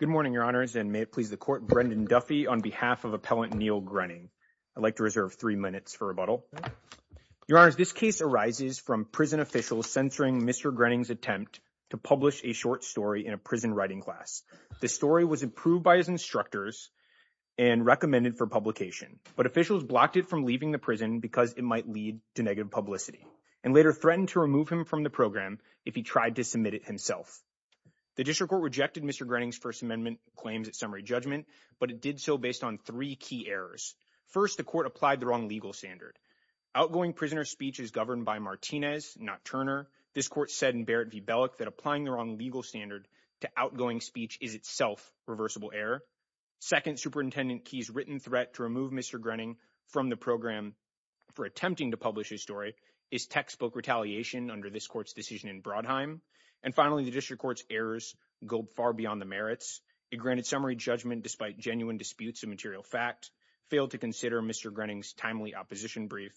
Good morning, Your Honors, and may it please the Court, Brendan Duffy on behalf of Appellant Neil Grenning. I'd like to reserve three minutes for rebuttal. Your Honors, this case arises from prison officials censoring Mr. Grenning's attempt to publish a short story in a prison writing class. The story was approved by his instructors and recommended for publication, but officials blocked it from leaving the prison because it might lead to negative publicity and later threatened to remove him from the program if he tried to submit it himself. The District Court rejected Mr. Grenning's First Amendment claims at summary judgment, but it did so based on three key errors. First, the Court applied the wrong legal standard. Outgoing prisoner speech is governed by Martinez, not Turner. This Court said in Barrett v. Bellock that applying the wrong legal standard to outgoing speech is itself reversible error. Second, Superintendent Key's written threat to remove Mr. Grenning from the program for attempting to publish his story is textbook retaliation under this Court's decision in Brodheim. And finally, the District Court's errors go far beyond the merits. It granted summary judgment despite genuine disputes of material fact, failed to consider Mr. Grenning's timely opposition brief,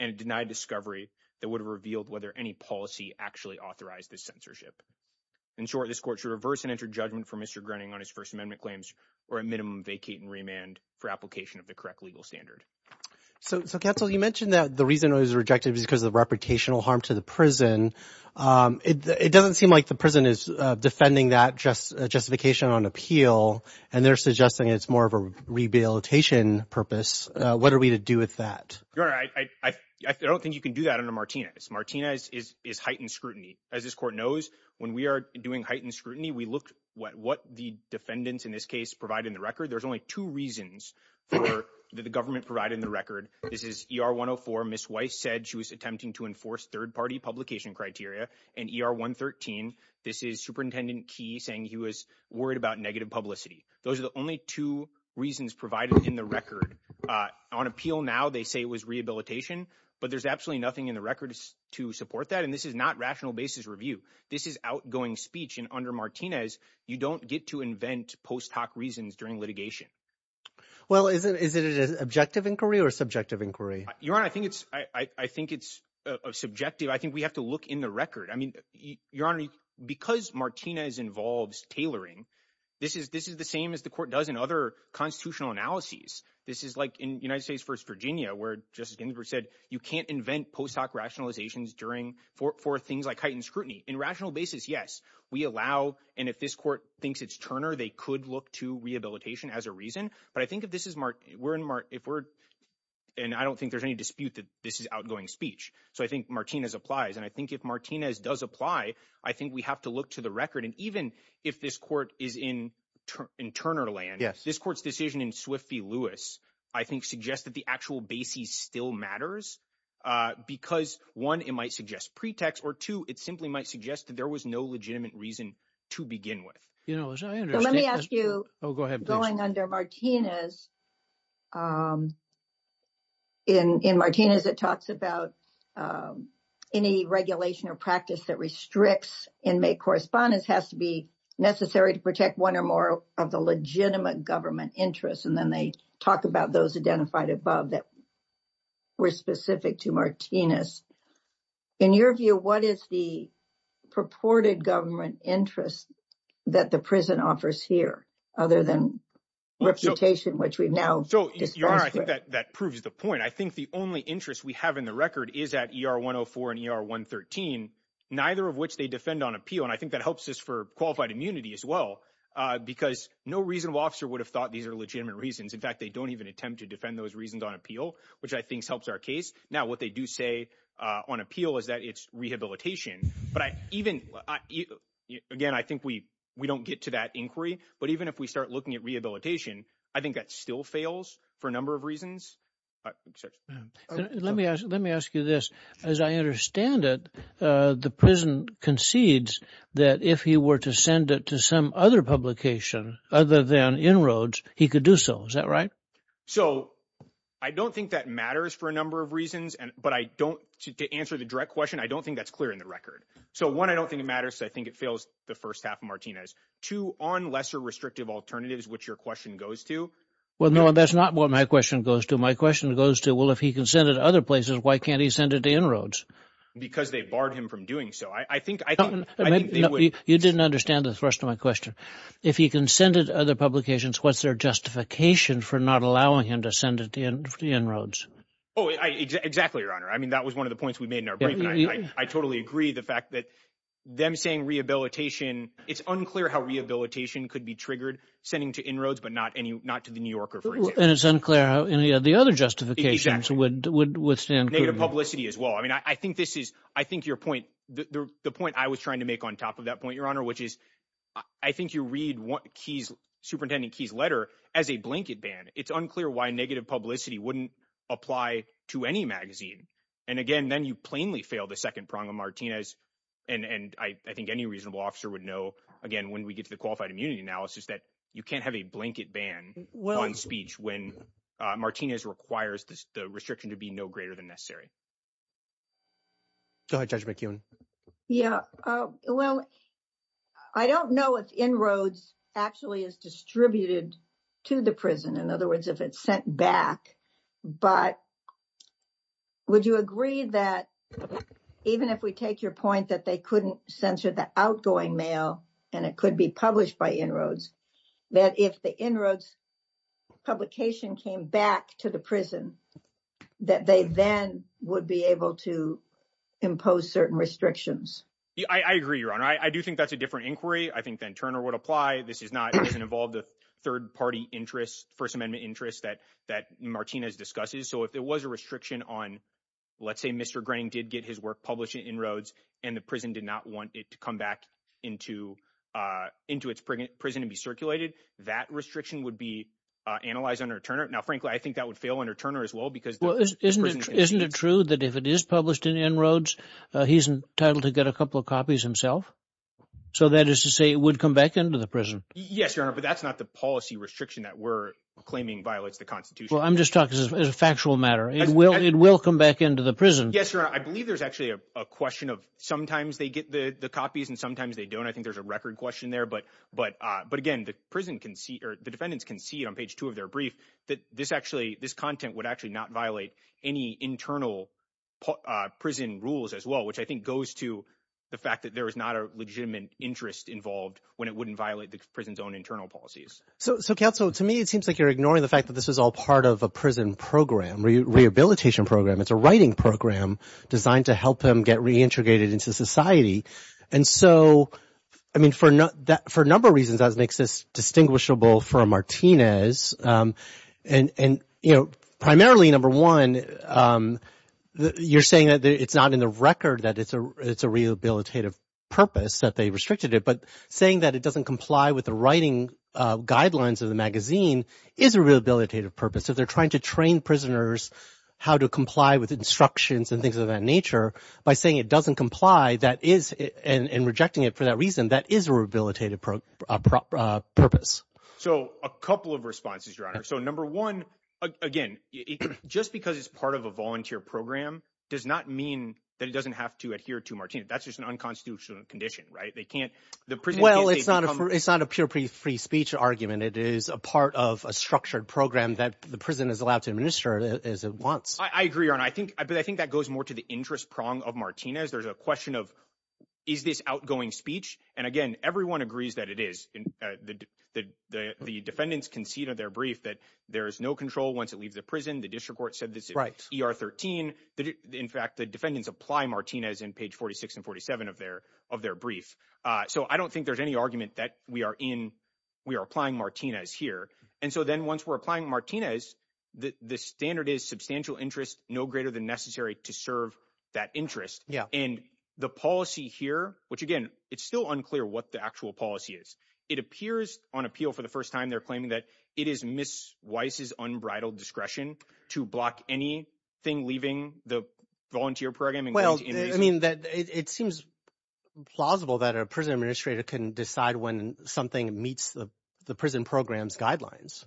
and denied discovery that would have revealed whether any policy actually authorized this censorship. In short, this Court should reverse and enter judgment for Mr. Grenning on his First Amendment claims or at minimum vacate and remand for application of the correct legal standard. So, Counsel, you mentioned that the reason it was rejected was because of the reputational harm to the prison. It doesn't seem like the prison is defending that justification on appeal, and they're suggesting it's more of a rehabilitation purpose. What are we to do with that? Your Honor, I don't think you can do that under Martinez. Martinez is heightened scrutiny. As this Court knows, when we are doing heightened scrutiny, we look at what the defendants in this case provide in the record. There's only two reasons that the government provided in the record. This is ER 104, Ms. Weiss said she was attempting to enforce third-party publication criteria, and ER 113, this is Superintendent Key saying he was worried about negative publicity. Those are the only two reasons provided in the record. On appeal now, they say it was rehabilitation, but there's absolutely nothing in the record to support that, and this is not rational basis review. This is outgoing speech, and under Martinez, you don't get to invent post-hoc reasons during litigation. Well, is it an objective inquiry or a subjective inquiry? Your Honor, I think it's subjective. I think we have to look in the record. I mean, Your Honor, because Martinez involves tailoring, this is the same as the Court does in other constitutional analyses. This is like in United States v. Virginia, where Justice Ginsburg said you can't invent post-hoc rationalizations for things like heightened scrutiny. In rational basis, yes, we allow, and if this Court thinks it's Turner, they could look to rehabilitation as a reason, but I think if this is, and I don't think there's any dispute that this is outgoing speech, so I think Martinez applies, and I think if Martinez does apply, I think we have to look to the record, and even if this Court is in Turner land, this Court's decision in Swift v. Lewis, I think, suggests that the actual basis still matters, because one, it might suggest pretext, or two, it simply might suggest that there was no legitimate reason to begin with. You know, as I understand— Let me ask you— Oh, go ahead, please. Going under Martinez, in Martinez, it talks about any regulation or practice that restricts inmate correspondence has to be necessary to protect one or more of the legitimate government interests, and then they talk about those identified above that were specific to Martinez. In your view, what is the purported government interest that the prison offers here, other than reputation, which we've now disposed of? Your Honor, I think that proves the point. I think the only interest we have in the record is at ER 104 and ER 113, neither of which they defend on appeal, and I think that helps us for qualified immunity as well, because no reasonable officer would have thought these legitimate reasons. In fact, they don't even attempt to defend those reasons on appeal, which I think helps our case. Now, what they do say on appeal is that it's rehabilitation, but even— Again, I think we don't get to that inquiry, but even if we start looking at rehabilitation, I think that still fails for a number of reasons. Let me ask you this. As I understand it, the prison concedes that if he were to send it to other publications other than En-ROADS, he could do so. Is that right? So, I don't think that matters for a number of reasons, but to answer the direct question, I don't think that's clear in the record. So, one, I don't think it matters. I think it fails the first half of Martinez. Two, on lesser restrictive alternatives, which your question goes to— Well, no, that's not what my question goes to. My question goes to, well, if he can send it to other places, why can't he send it to En-ROADS? Because they barred him from doing so. I think— No, you didn't understand the thrust of my question. If he can send it to other publications, what's their justification for not allowing him to send it to En-ROADS? Oh, exactly, Your Honor. I mean, that was one of the points we made in our brief, and I totally agree the fact that them saying rehabilitation, it's unclear how rehabilitation could be triggered, sending to En-ROADS, but not to The New Yorker, for example. And it's unclear how any of the other justifications would stand— Negative publicity as well. I mean, I think this is, I think your point, the point I was trying to make on top of that point, Your Honor, which is, I think you read Superintendent Key's letter as a blanket ban. It's unclear why negative publicity wouldn't apply to any magazine. And again, then you plainly fail the second prong of Martinez, and I think any reasonable officer would know, again, when we get to the qualified immunity analysis, that you can't have a blanket ban on speech when Martinez requires the restriction to be no greater than necessary. Go ahead, Judge McEwen. Yeah, well, I don't know if En-ROADS actually is distributed to the prison, in other words, if it's sent back, but would you agree that even if we take your point that they couldn't I agree, Your Honor. I do think that's a different inquiry. I think that Turner would apply. This is not—it doesn't involve the third-party interest, First Amendment interest that Martinez discusses. So if there was a restriction on, let's say Mr. Grening did get his work published in En-ROADS and the prison did not want it to come back into its prison and be circulated, that restriction would be analyzed under Turner. Now, frankly, I think that would fail under Turner as well because— Well, isn't it true that if it is published in En-ROADS, he's entitled to get a couple of copies himself? So that is to say it would come back into the prison? Yes, Your Honor, but that's not the policy restriction that we're claiming violates the Constitution. Well, I'm just talking as a factual matter. It will come back into the prison. Yes, Your Honor. I believe there's actually a question of sometimes they get the copies and sometimes they don't. I think there's a record question there. But again, the prison can see—or the defendants can see on page two of their brief that this actually—this content would actually not violate any internal prison rules as well, which I think goes to the fact that there is not a legitimate interest involved when it wouldn't violate the prison's own internal policies. So, Counsel, to me, it seems like you're ignoring the fact that this is all part of a prison program, rehabilitation program. It's a writing program designed to help them get reintegrated into society. And so, I mean, for a number of reasons, that makes this distinguishable for Martinez. And, you know, primarily, number one, you're saying that it's not in the record that it's a rehabilitative purpose that they restricted it. But saying that it doesn't comply with the writing guidelines of the magazine is a rehabilitative purpose. If they're trying to train prisoners how to comply with instructions and things of that nature, by saying it doesn't comply, and rejecting it for that reason, that is a rehabilitative purpose. So, a couple of responses, Your Honor. So, number one, again, just because it's part of a volunteer program does not mean that it doesn't have to adhere to Martinez. That's just an unconstitutional condition, right? They can't— Well, it's not a pure free speech argument. It is a part of a structured program that the prison is allowed to administer as it wants. I agree, Your Honor. But I think that goes more to the interest prong of Martinez. There's a question of, is this outgoing speech? And again, everyone agrees that it is. The defendants concede in their brief that there is no control once it leaves the prison. The district court said this is ER 13. In fact, the defendants apply Martinez in page 46 and 47 of their brief. So, I don't think there's any argument that we are applying Martinez here. And so then once we're applying Martinez, the standard is substantial interest, no greater than necessary to serve that interest. And the policy here, which again, it's still unclear what the actual policy is, it appears on appeal for the first time they're claiming that it is Ms. Weiss's unbridled discretion to block anything leaving the volunteer program. Well, I mean, it seems plausible that a prison administrator can decide when something meets the prison program's guidelines.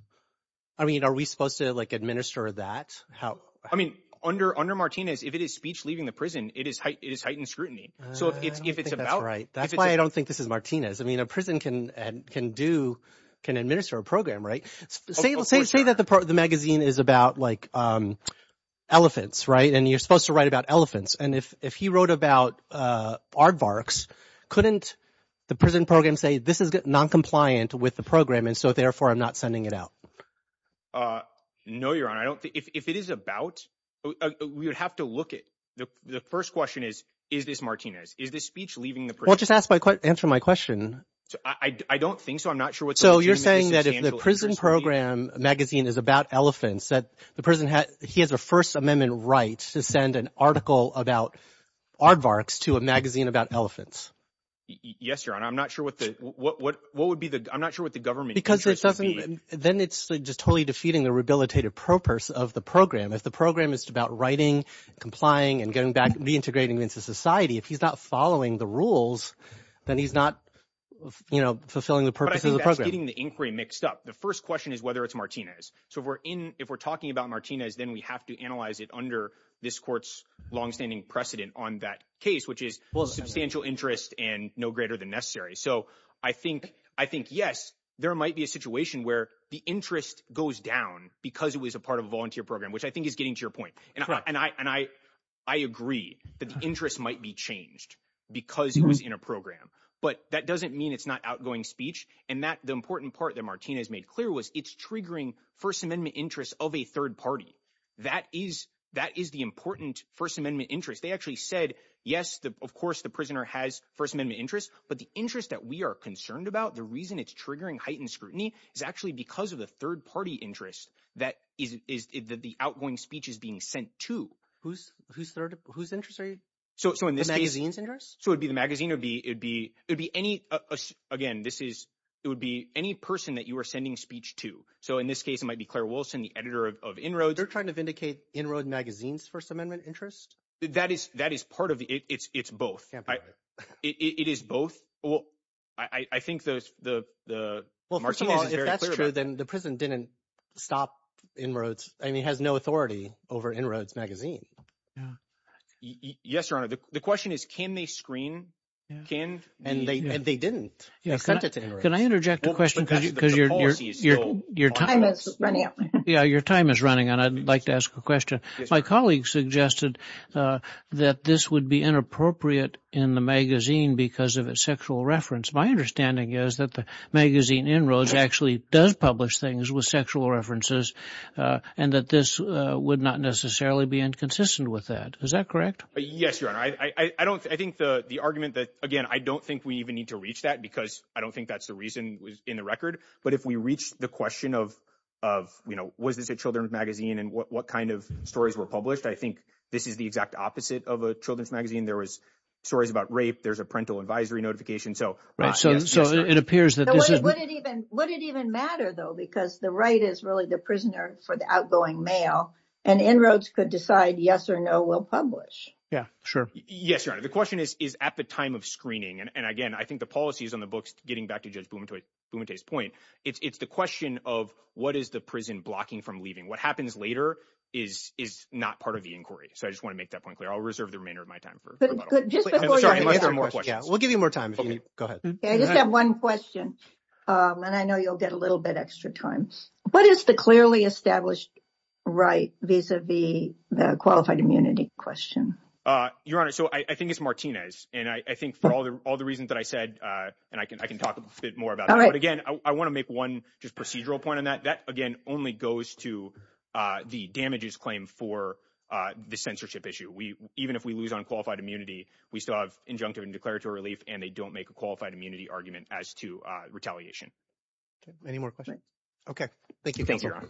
I mean, are we supposed to like administer that? I mean, under Martinez, if it is speech leaving the prison, it is heightened scrutiny. So, if it's about- I don't think that's right. That's why I don't think this is Martinez. I mean, a prison can administer a program, right? Say that the magazine is about like elephants, right? And you're supposed to write about elephants. And if he wrote about aardvarks, couldn't the prison program say, this is noncompliant with the program, and so therefore I'm not sending it out? No, Your Honor. If it is about, we would have to look at, the first question is, is this Martinez? Is this speech leaving the- Well, just answer my question. I don't think so. I'm not sure what- So, you're saying that if the prison program magazine is about elephants, that the prison, he has a First Amendment right to send an article about aardvarks to a magazine about elephants. Yes, Your Honor. I'm not sure what the, what would be the, I'm not sure what the government- Because it doesn't, then it's just totally defeating the rehabilitative purpose of the program. If the program is about writing, complying, and getting back, reintegrating into society, if he's not following the rules, then he's not, you know, fulfilling the purpose of the program. But I think that's getting the inquiry mixed up. The first question is whether it's Martinez. So if we're in, if we're talking about Martinez, then we have to analyze it under this court's longstanding precedent on that case, which is substantial interest and no greater than necessary. So I think, yes, there might be a situation where the interest goes down because it was a part of a volunteer program, which I think is getting to your point. And I, and I, I agree that the interest might be changed because it was in a program, but that doesn't mean it's not outgoing speech. And that the important part that Martinez made clear was it's triggering First Amendment interests of a third party. That is, that is the important First Amendment interest. They actually said, yes, of course, the prisoner has First Amendment interests, but the interest that we are concerned about, the reason it's triggering heightened scrutiny is actually because of the third party interest that is, is that the outgoing speech is being sent to whose, whose third, whose interest are you? So, so in this case, so it would be the magazine would be, it'd be, it'd be any, again, this is, it would be any person that you were sending speech to. So in this case, it might be Claire Wilson, the editor of inroads, trying to vindicate inroad magazines, First Amendment interest. That is, that is part of it. It's, it's both. It is both. Well, I think those, the, the, well, first of all, if that's true, then the prison didn't stop inroads. I mean, it has no authority over inroads magazine. Yes, Your Honor. The question is, can they screen? Can they, and they didn't. Can I interject a question? Because your, your, your time is running out. Yeah, your time is running. And I'd like to ask a question. My colleagues suggested that this would be inappropriate in the magazine because of its sexual reference. My understanding is that the magazine inroads actually does publish things with sexual references and that this would not necessarily be inconsistent with that. Is that correct? Yes, Your Honor. I don't, I think the, the argument that, again, I don't think we even need to reach that because I don't think that's the reason in the record. But if we reach the question of, of, you know, was this a children's magazine and what, what kind of stories were published? I think this is the exact opposite of a children's magazine. There was stories about rape. There's a parental advisory notification. So, right. So, so it appears that this is, would it even, would it even matter though, because the right is really the prisoner for the outgoing mail and inroads could decide yes or no we'll publish. Yeah, sure. Yes, Your Honor. The question is, is at the time of screening. And again, I think the policies on the books, getting back to Judge Bumate, Bumate's point, it's, it's the question of what is the prison blocking from leaving? What happens later is, is not part of inquiry. So I just want to make that point clear. I'll reserve the remainder of my time. We'll give you more time. Go ahead. I just have one question. And I know you'll get a little bit extra time, but it's the clearly established right vis-a-vis the qualified immunity question. Your Honor. So I think it's Martinez. And I think for all the, all the reasons that I said and I can, I can talk a bit more about it, but again, I want to make one just procedural point on that. That again, only goes to the damages claim for the censorship issue. We, even if we lose on qualified immunity, we still have injunctive and declaratory relief and they don't make a qualified immunity argument as to retaliation. Any more questions? Okay. Thank you. Thank you, Your Honor.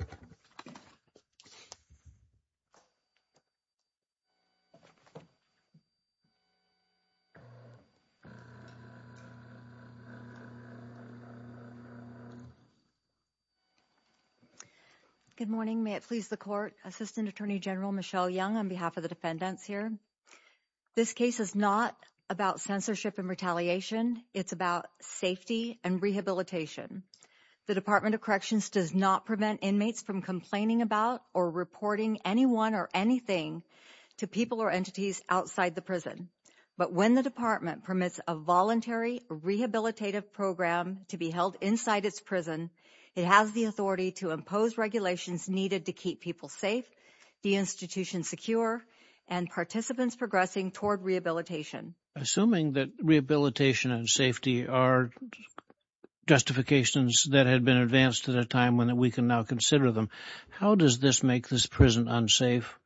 Good morning. May it please the court assistant attorney general, Michelle Young, on behalf of the defendants here. This case is not about censorship and retaliation. It's about safety and rehabilitation. The department of corrections does not prevent inmates from complaining about or reporting anyone or anything to people or entities outside the prison. But when the department permits a voluntary rehabilitative program to be held inside its prison, it has the authority to impose regulations needed to keep people safe, the institution secure, and participants progressing toward rehabilitation. Assuming that rehabilitation and safety are justifications that had been advanced at a time when we can now consider them. How does this make this prison unsafe?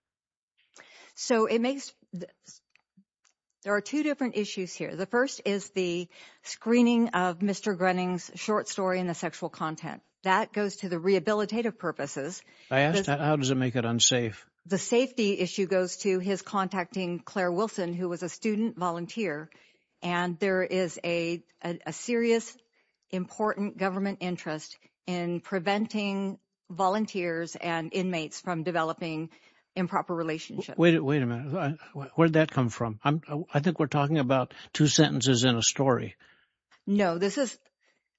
So it makes, there are two different issues here. The first is the screening of Mr. Grenning's short story in the sexual content. That goes to the rehabilitative purposes. I asked how does it make it unsafe? The safety issue goes to his contacting Claire Wilson, who was a student volunteer. And there is a serious, important government interest in preventing volunteers and inmates from developing improper relationships. Wait a minute, where'd that come from? I think we're talking about two sentences in a story. No, this is,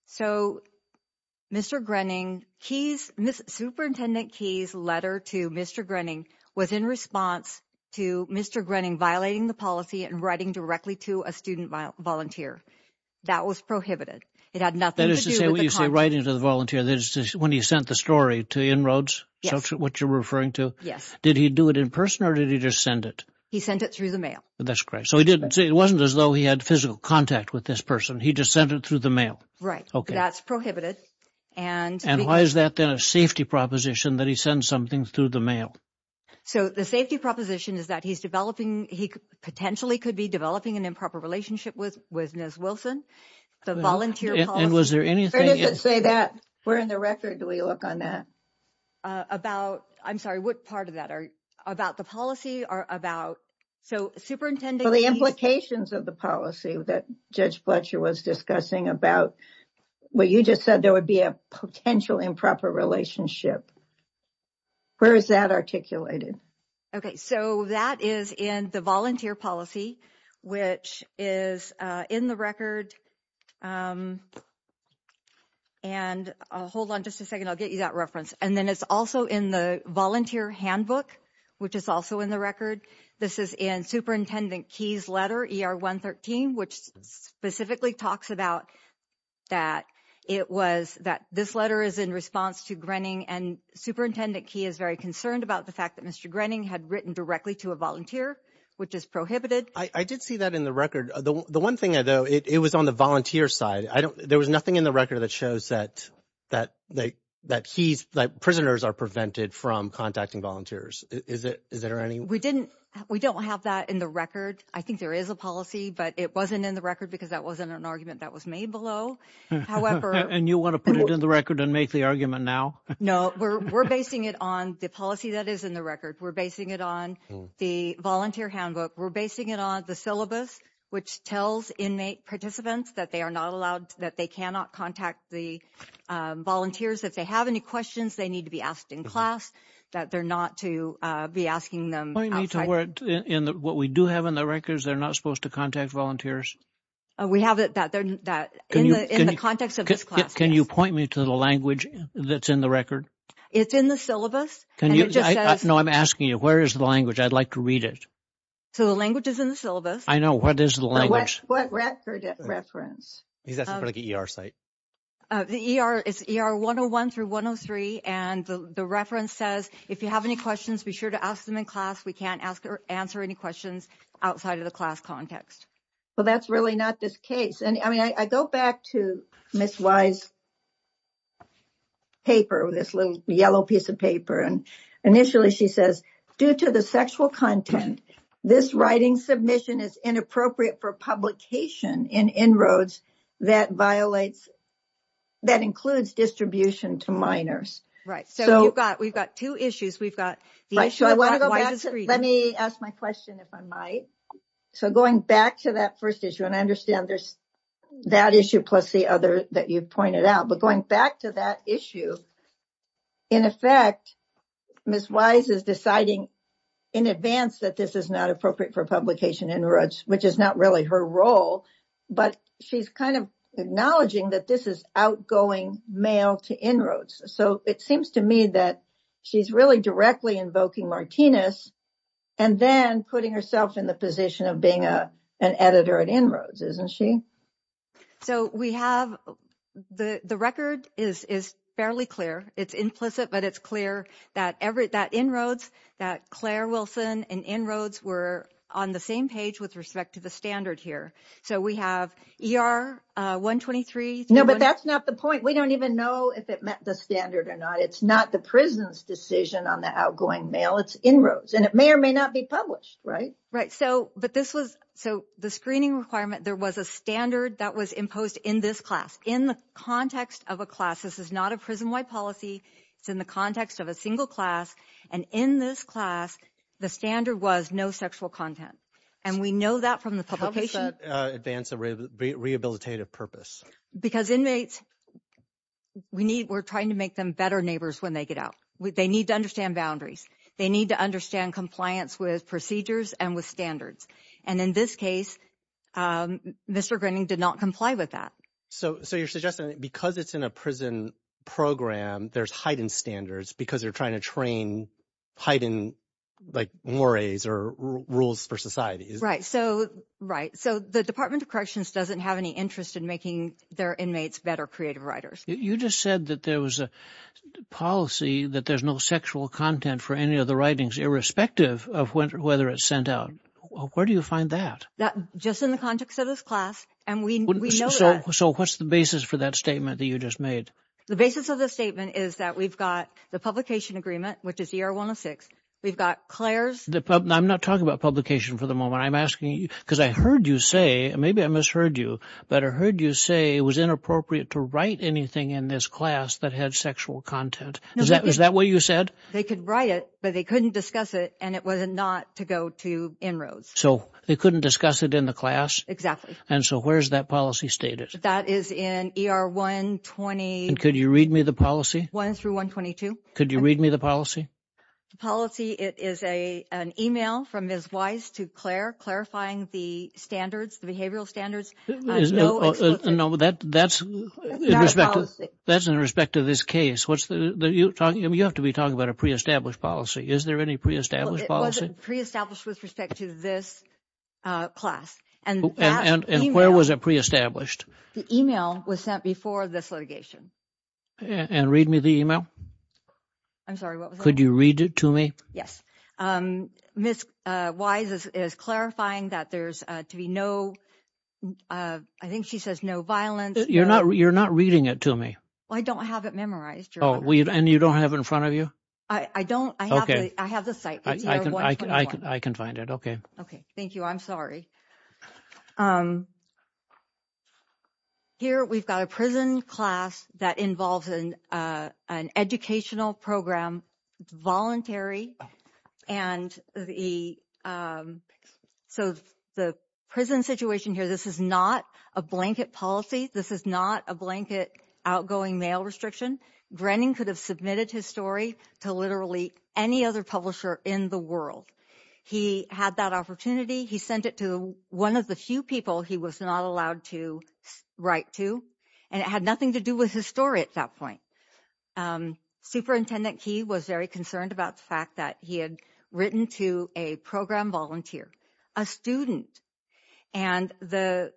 so Mr. Grenning, Superintendent Keyes' letter to Mr. Grenning was in response to Mr. Grenning violating the policy and writing directly to a student volunteer. That was prohibited. It had nothing to do with the content. That is to say what you say, writing to the volunteer, when he sent the story to En-ROADS, what you're referring to? Yes. Did he do it in person or did he just send it? He sent it through the mail. That's correct. So he didn't, it wasn't as though he had physical contact with this person. He just sent it through the mail. Right. That's prohibited. And why is that then a safety proposition that he sends something through the mail? So the safety proposition is that he's developing, he potentially could be developing an improper relationship with Ms. Wilson. And was there anything... Where does it say that? Where in the record do we look on that? About, I'm sorry, what part of that? About the policy or about, so Superintendent Keyes... For the implications of the policy that Judge Fletcher was discussing about what you just said, there would be a potential improper relationship. Where is that articulated? Okay, so that is in the volunteer policy which is in the record. And hold on just a second, I'll get you that reference. And then it's also in the volunteer handbook, which is also in the record. This is in Superintendent Keyes' letter, ER 113, which specifically talks about that it was, that this letter is in response to Grenning and Superintendent Keyes is very concerned about the fact that Mr. Grenning had written directly to a volunteer, which is prohibited. I did see that in the record. The one thing, though, it was on the volunteer side. I don't, there was nothing in the record that shows that he's, that prisoners are prevented from contacting volunteers. Is it, is there any? We didn't, we don't have that in the record. I think there is a policy, but it wasn't in the record because that wasn't an argument that was made below. However... And you want to put it in the record and make the argument now? No, we're basing it on the policy that is in the record. We're basing it on the volunteer handbook. We're basing it on the syllabus, which tells inmate participants that they are not allowed, that they cannot contact the volunteers. If they have any questions, they need to be asked in class, that they're not to be asking them outside. Point me to where, in what we do have in the records, they're not supposed to contact volunteers? We have it that they're, that in the context of this class. Can you point me to the language that's in the record? It's in the syllabus. And it just says... No, I'm asking you, where is the language? I'd like to read it. So the language is in the syllabus. I know. What is the language? What reference? Is that for like an ER site? The ER, it's ER 101 through 103. And the reference says, if you have any questions, be sure to ask them in class. We can't ask or answer any questions outside of the class context. Well, that's really not this case. And I mean, I go back to Ms. Wise's paper, this little yellow piece of paper. And initially she says, due to the sexual content, this writing submission is inappropriate for publication in En-ROADS that violates, that includes distribution to minors. Right. So you've got, we've got two issues. We've got... Let me ask my question if I might. So going back to that first issue, and I understand there's that issue plus the other that you've pointed out, but going back to that issue, in effect, Ms. Wise is deciding in advance that this is not appropriate for publication in En-ROADS, which is not really her role, but she's kind of acknowledging that this is outgoing mail to En-ROADS. So it seems to me that she's really directly invoking Martinez and then putting herself in the position of being an editor at En-ROADS, isn't she? So we have, the record is fairly clear. It's implicit, but it's clear that En-ROADS, that Claire Wilson and En-ROADS were on the same page with respect to the standard here. So we have ER 123... No, but that's not the point. We don't even know if it met the standard or not. It's not the prison's decision on the outgoing mail, it's En-ROADS. And it may or may not be published, right? Right. So the screening requirement, there was a standard that was imposed in this class, in the context of a class. This is not a prison-wide policy. It's in the context of a single class. And in this class, the standard was no sexual content. And we know that from the publication... How does that advance a rehabilitative purpose? Because inmates, we're trying to make them better neighbors when they get out. They need to and with standards. And in this case, Mr. Grenning did not comply with that. So you're suggesting that because it's in a prison program, there's heightened standards because they're trying to train heightened mores or rules for society? Right. So the Department of Corrections doesn't have any interest in making their inmates better creative writers. You just said that there was a policy that there's no sexual content for any of the writings, irrespective of whether it's sent out. Where do you find that? Just in the context of this class. And we know that. So what's the basis for that statement that you just made? The basis of the statement is that we've got the publication agreement, which is ER-106. We've got Claire's... I'm not talking about publication for the moment. I'm asking you because I heard you say, and maybe I misheard you, but I heard you say it was inappropriate to write anything in this class that had sexual content. Is that what you said? They could write it, but they couldn't discuss it, and it was not to go to inroads. So they couldn't discuss it in the class? And so where's that policy stated? That is in ER-120... And could you read me the policy? 1-122. Could you read me the policy? The policy, it is an email from Ms. Weiss to Claire clarifying the standards, the behavioral standards. No, that's in respect to this case. You have to be talking about a pre-established policy. Is there any pre-established policy? It wasn't pre-established with respect to this class. And where was it pre-established? The email was sent before this litigation. And read me the email? I'm sorry, what was that? Could you read it to me? Yes. Ms. Weiss is clarifying that there's to be no... I think she says no violence. You're not reading it to me. I don't have it memorized, Your Honor. Oh, and you don't have it in front of you? I don't. I have the site. I can find it. Okay. Okay. Thank you. I'm sorry. Here, we've got a prison class that involves an educational program, voluntary, and the... So the prison situation here, this is not a blanket policy. This is not a blanket outgoing mail restriction. Brennan could have submitted his story to literally any other publisher in the world. He had that opportunity. He sent it to one of the few people he was not allowed to write to. And it had nothing to do with his story at that point. Superintendent Key was very concerned about the fact that he had written to a program volunteer, a student. And the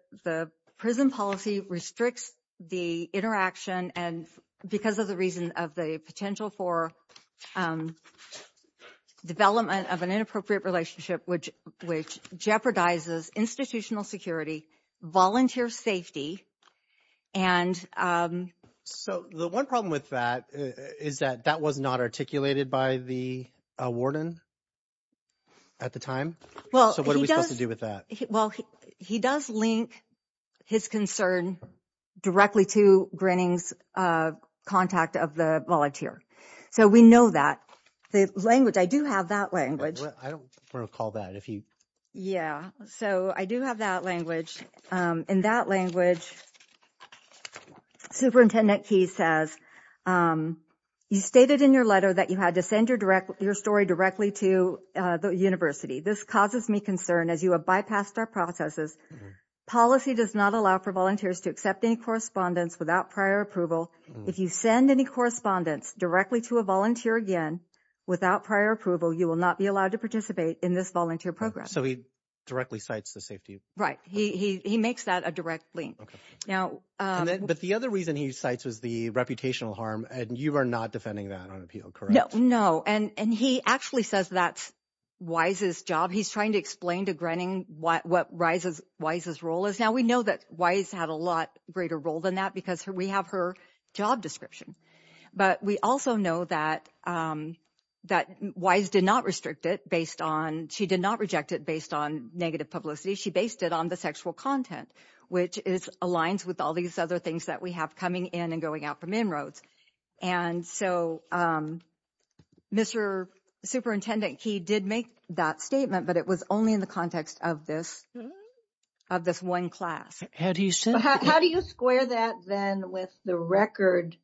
prison policy restricts the interaction because of the reason of the potential for development of an inappropriate relationship, which jeopardizes institutional security, volunteer safety, and... So the one problem with that is that that was not articulated by the warden at the time. Well, he does... So what are we supposed to do with that? He does link his concern directly to Grenning's contact of the volunteer. So we know that. The language, I do have that language. I don't recall that. Yeah. So I do have that language. In that language, Superintendent Key says, you stated in your letter that you had to send your story directly to the university. This causes me concern as you have bypassed our processes. Policy does not allow for volunteers to accept any correspondence without prior approval. If you send any correspondence directly to a volunteer again, without prior approval, you will not be allowed to participate in this volunteer program. So he directly cites the safety. Right. He makes that a direct link. But the other reason he cites was the reputational harm. And you are not defending that on appeal, correct? No. And he actually says that's Wise's job. He's trying to explain to Grenning what Wise's role is. Now, we know that Wise had a lot greater role than that because we have her job description. But we also know that Wise did not restrict it based on... She did not reject it based on negative publicity. She based it on the sexual content, which aligns with all these other things that we have coming in and going out from inroads. And so Mr. Superintendent Key did make that statement, but it was only in the context of this one class. How do you square that then with the record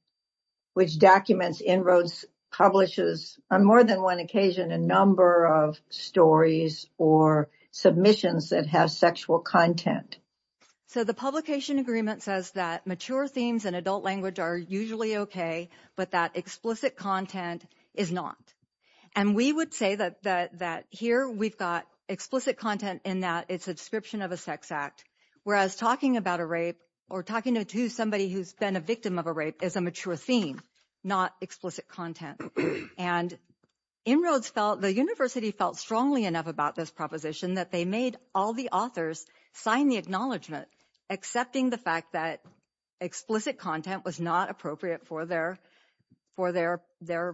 which documents inroads, publishes on more than one occasion, a number of stories or submissions that have sexual content? So the publication agreement says that mature themes and adult language are usually okay, but that explicit content is not. And we would say that here we've got explicit content in that it's a description of a sex act, whereas talking about a rape or talking to somebody who's been a victim of a rape is a mature theme, not explicit content. And inroads felt, the university felt strongly enough about this proposition that they made all the authors sign the acknowledgement, accepting the fact that explicit content was not appropriate for their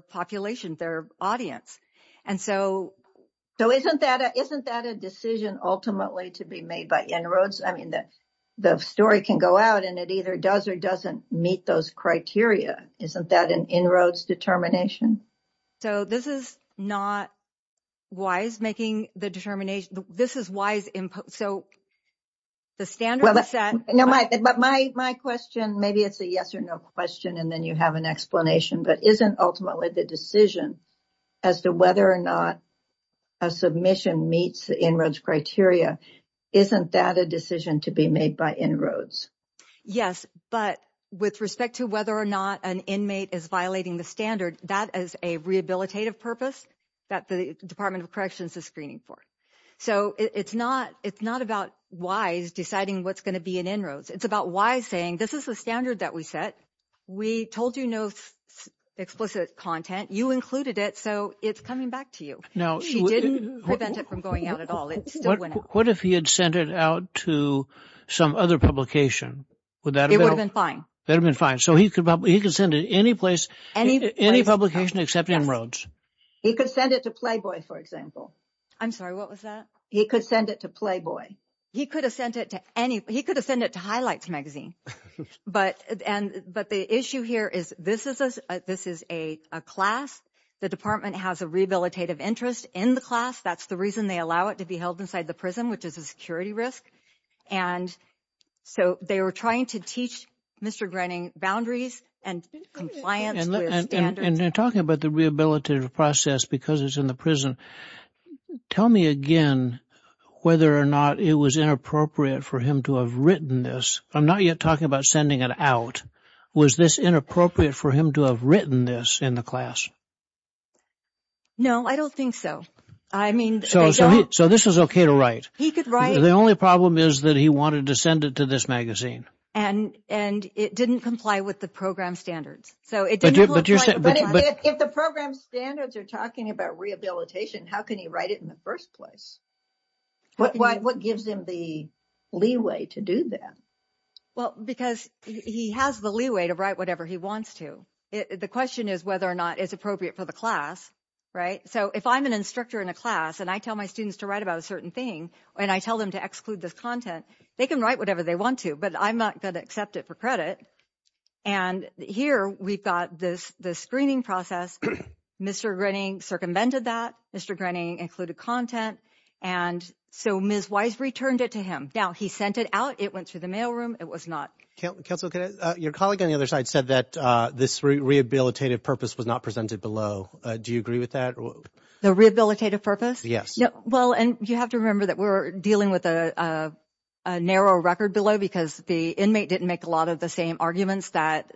population, their audience. So isn't that a decision ultimately to be made by inroads? I mean, the story can go out and it either does or doesn't meet those criteria. Isn't that an inroads determination? So this is not Wise making the determination. This is Wise input. So the standard is set. No, but my question, maybe it's a yes or no question and then you have an explanation, but isn't ultimately the decision as to whether or not a submission meets the inroads criteria, isn't that a decision to be made by inroads? Yes, but with respect to whether or not an inmate is violating the standard, that is a rehabilitative purpose that the Department of Corrections is screening for. So it's not about Wise deciding what's going to be an inroads. It's about Wise saying, this is the standard that we set. We told you no explicit content. You included it. So it's coming back to you. Now, she didn't prevent it from going out at all. What if he had sent it out to some other publication? Would that have been fine? That would have been fine. So he could send it any place, any publication except inroads. He could send it to Playboy, for example. I'm sorry, what was that? He could send it to Playboy. He could have sent it to any, he could have sent it to Highlights magazine. But the issue here is this is a class. The department has a rehabilitative interest in the class. That's the reason they allow it to be held inside the prison, which is a security risk. And so they were trying to teach Mr. Grenning boundaries and compliance with standards. And they're talking about the rehabilitative process because it's in the prison. Tell me again whether or not it was inappropriate for him to have written this. I'm not yet talking about sending it out. Was this inappropriate for him to have written this in the class? No, I don't think so. I mean, so this is okay to write. He could write. The only problem is that he wanted to send it to this magazine. And it didn't comply with the program standards. So it didn't look right. If the program standards are talking about rehabilitation, how can he write it in the first place? What gives him the leeway to do that? Well, because he has the leeway to write whatever he wants to. The question is whether or not it's appropriate for the class, right? So if I'm an instructor in a class and I tell my students to write about a certain thing, and I tell them to exclude this content, they can write whatever they want to. But I'm not going to accept it for credit. And here we've got this screening process. Mr. Grenning circumvented that. Mr. Grenning included content. And so Ms. Wise returned it to him. Now, he sent it out. It went through the mailroom. It was not. Counselor, your colleague on the other side said that this rehabilitative purpose was not presented below. Do you agree with that? The rehabilitative purpose? Yes. Well, and you have to remember that we're dealing with a narrow record below because the inmate didn't make a lot of the same arguments that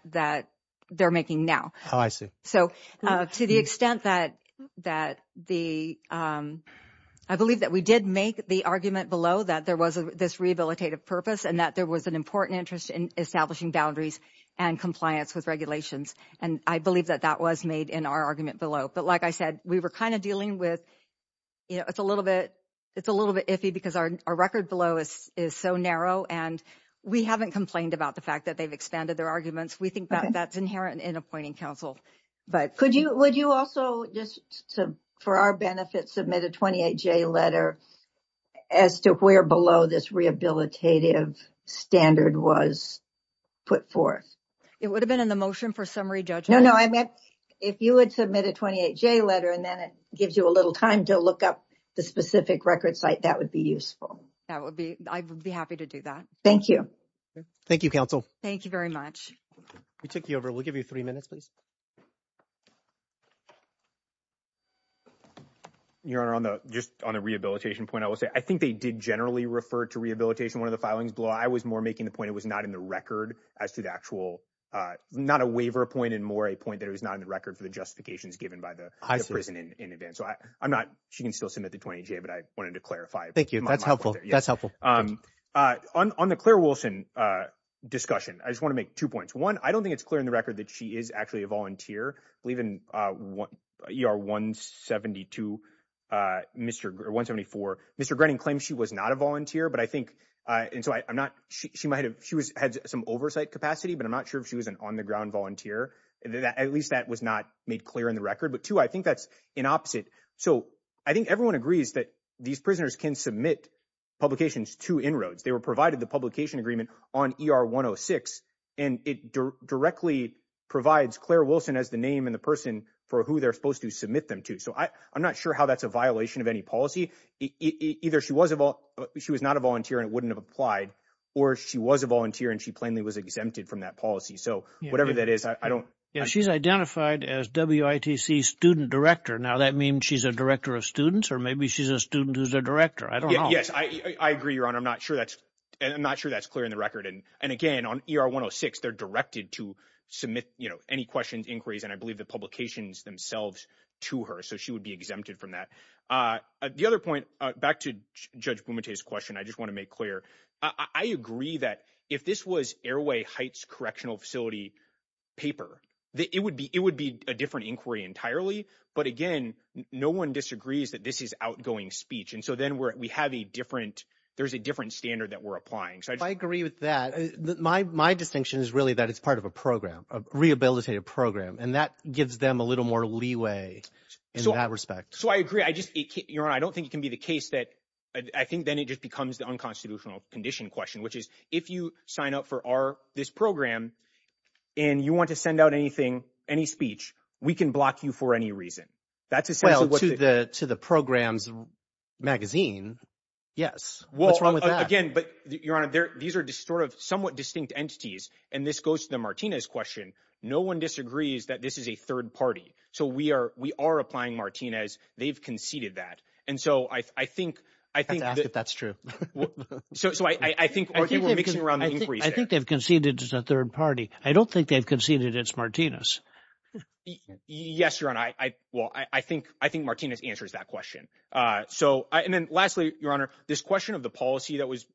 they're making now. Oh, I see. So to the extent that the... I believe that we did make the argument below that there was this rehabilitative purpose and that there was an important interest in establishing boundaries and compliance with regulations. And I believe that that was made in our argument below. But like I said, we were kind of dealing with... You know, it's a little bit iffy because our record below is so narrow. And we haven't complained about the fact that they've expanded their arguments. We think that that's inherent in appointing counsel. But could you... Would you also just, for our benefit, submit a 28-J letter as to where below this rehabilitative standard was put forth? It would have been in the motion for summary judgment. No, no, I meant if you would submit a 28-J letter and then it gives you a little time to look up the specific record site, that would be useful. I would be happy to do that. Thank you. Thank you, counsel. Thank you very much. We took you over. We'll give you three minutes, please. Your Honor, just on the rehabilitation point, I will say, I think they did generally refer to rehabilitation one of the filings below. I was more making the point it was not in the record as to the actual... Not a waiver point and more a point that it was not in the record for the justifications given by the prison in advance. So I'm not... She can still submit the 28-J, but I wanted to clarify. Thank you. That's helpful. That's helpful. On the Claire Wilson discussion, I just want to make two points. One, I don't think it's clear in the record that she is actually a volunteer. I believe in ER 174, Mr. Grenning claims she was not a volunteer, but I think... And so I'm not... She had some oversight capacity, but I'm not sure if she was an on-the-ground volunteer. At least that was not made clear in the record. But two, I think that's in opposite. So I think everyone agrees that these prisoners can submit publications to inroads. They were provided the publication agreement on ER 106, and it directly provides Claire Wilson as the name and the person for who they're supposed to submit them to. So I'm not sure how that's a violation of any policy. Either she was not a volunteer and it wouldn't have applied, or she was a volunteer and she plainly was exempted from that policy. So whatever that is, I don't... She's identified as WITC student director. Now, that means she's a director of students, or maybe she's a student who's a director. I don't know. Yes, I agree, Your Honor. I'm not sure that's clear in the record. And again, on ER 106, they're directed to submit any questions, inquiries, and I believe the publications themselves to her. So she would be exempted from that. The other point, back to Judge Bumate's question, I just want to make clear. I agree that if this was Airway Heights Correctional Facility paper, it would be a different inquiry entirely. But again, no one disagrees that this is outgoing speech. And so then we have a different... There's a different standard that we're applying. So I just... I agree with that. My distinction is really that it's part of a program, a rehabilitative program, and that gives them a little more leeway in that respect. So I agree. I just... Your Honor, I don't think it can be the case that... I think then it just becomes the unconstitutional condition question, which is if you sign up for this program and you want to send out anything, any speech, we can block you for any reason. That's essentially... Well, to the program's magazine, yes. What's wrong with that? Again, but Your Honor, these are sort of somewhat distinct entities. And this goes to the Martinez question. No one disagrees that this is a third party. So we are applying Martinez. They've conceded that. And so I think... I have to ask if that's true. So I think we're mixing around the inquiry there. I think they've conceded it's a third party. I don't think they've conceded it's Martinez. Yes, Your Honor, I... Well, I think Martinez answers that question. So... And then lastly, Your Honor, this question of the policy that was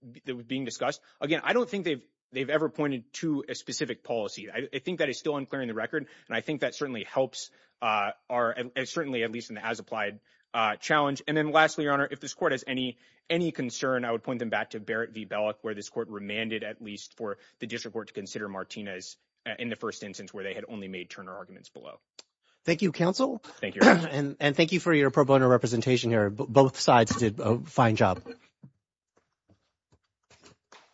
being discussed, again, I don't think they've ever pointed to a specific policy. I think that is still unclear in the record. And I think that certainly helps our... Certainly, at least in the as-applied challenge. And then lastly, Your Honor, if this court has any concern, I would point them back to Barrett v. Bellock, where this court remanded at least for the district court to consider Martinez in the first instance where they had only made Turner arguments below. Thank you, counsel. Thank you, Your Honor. And thank you for your pro bono representation here. Both sides did a fine job.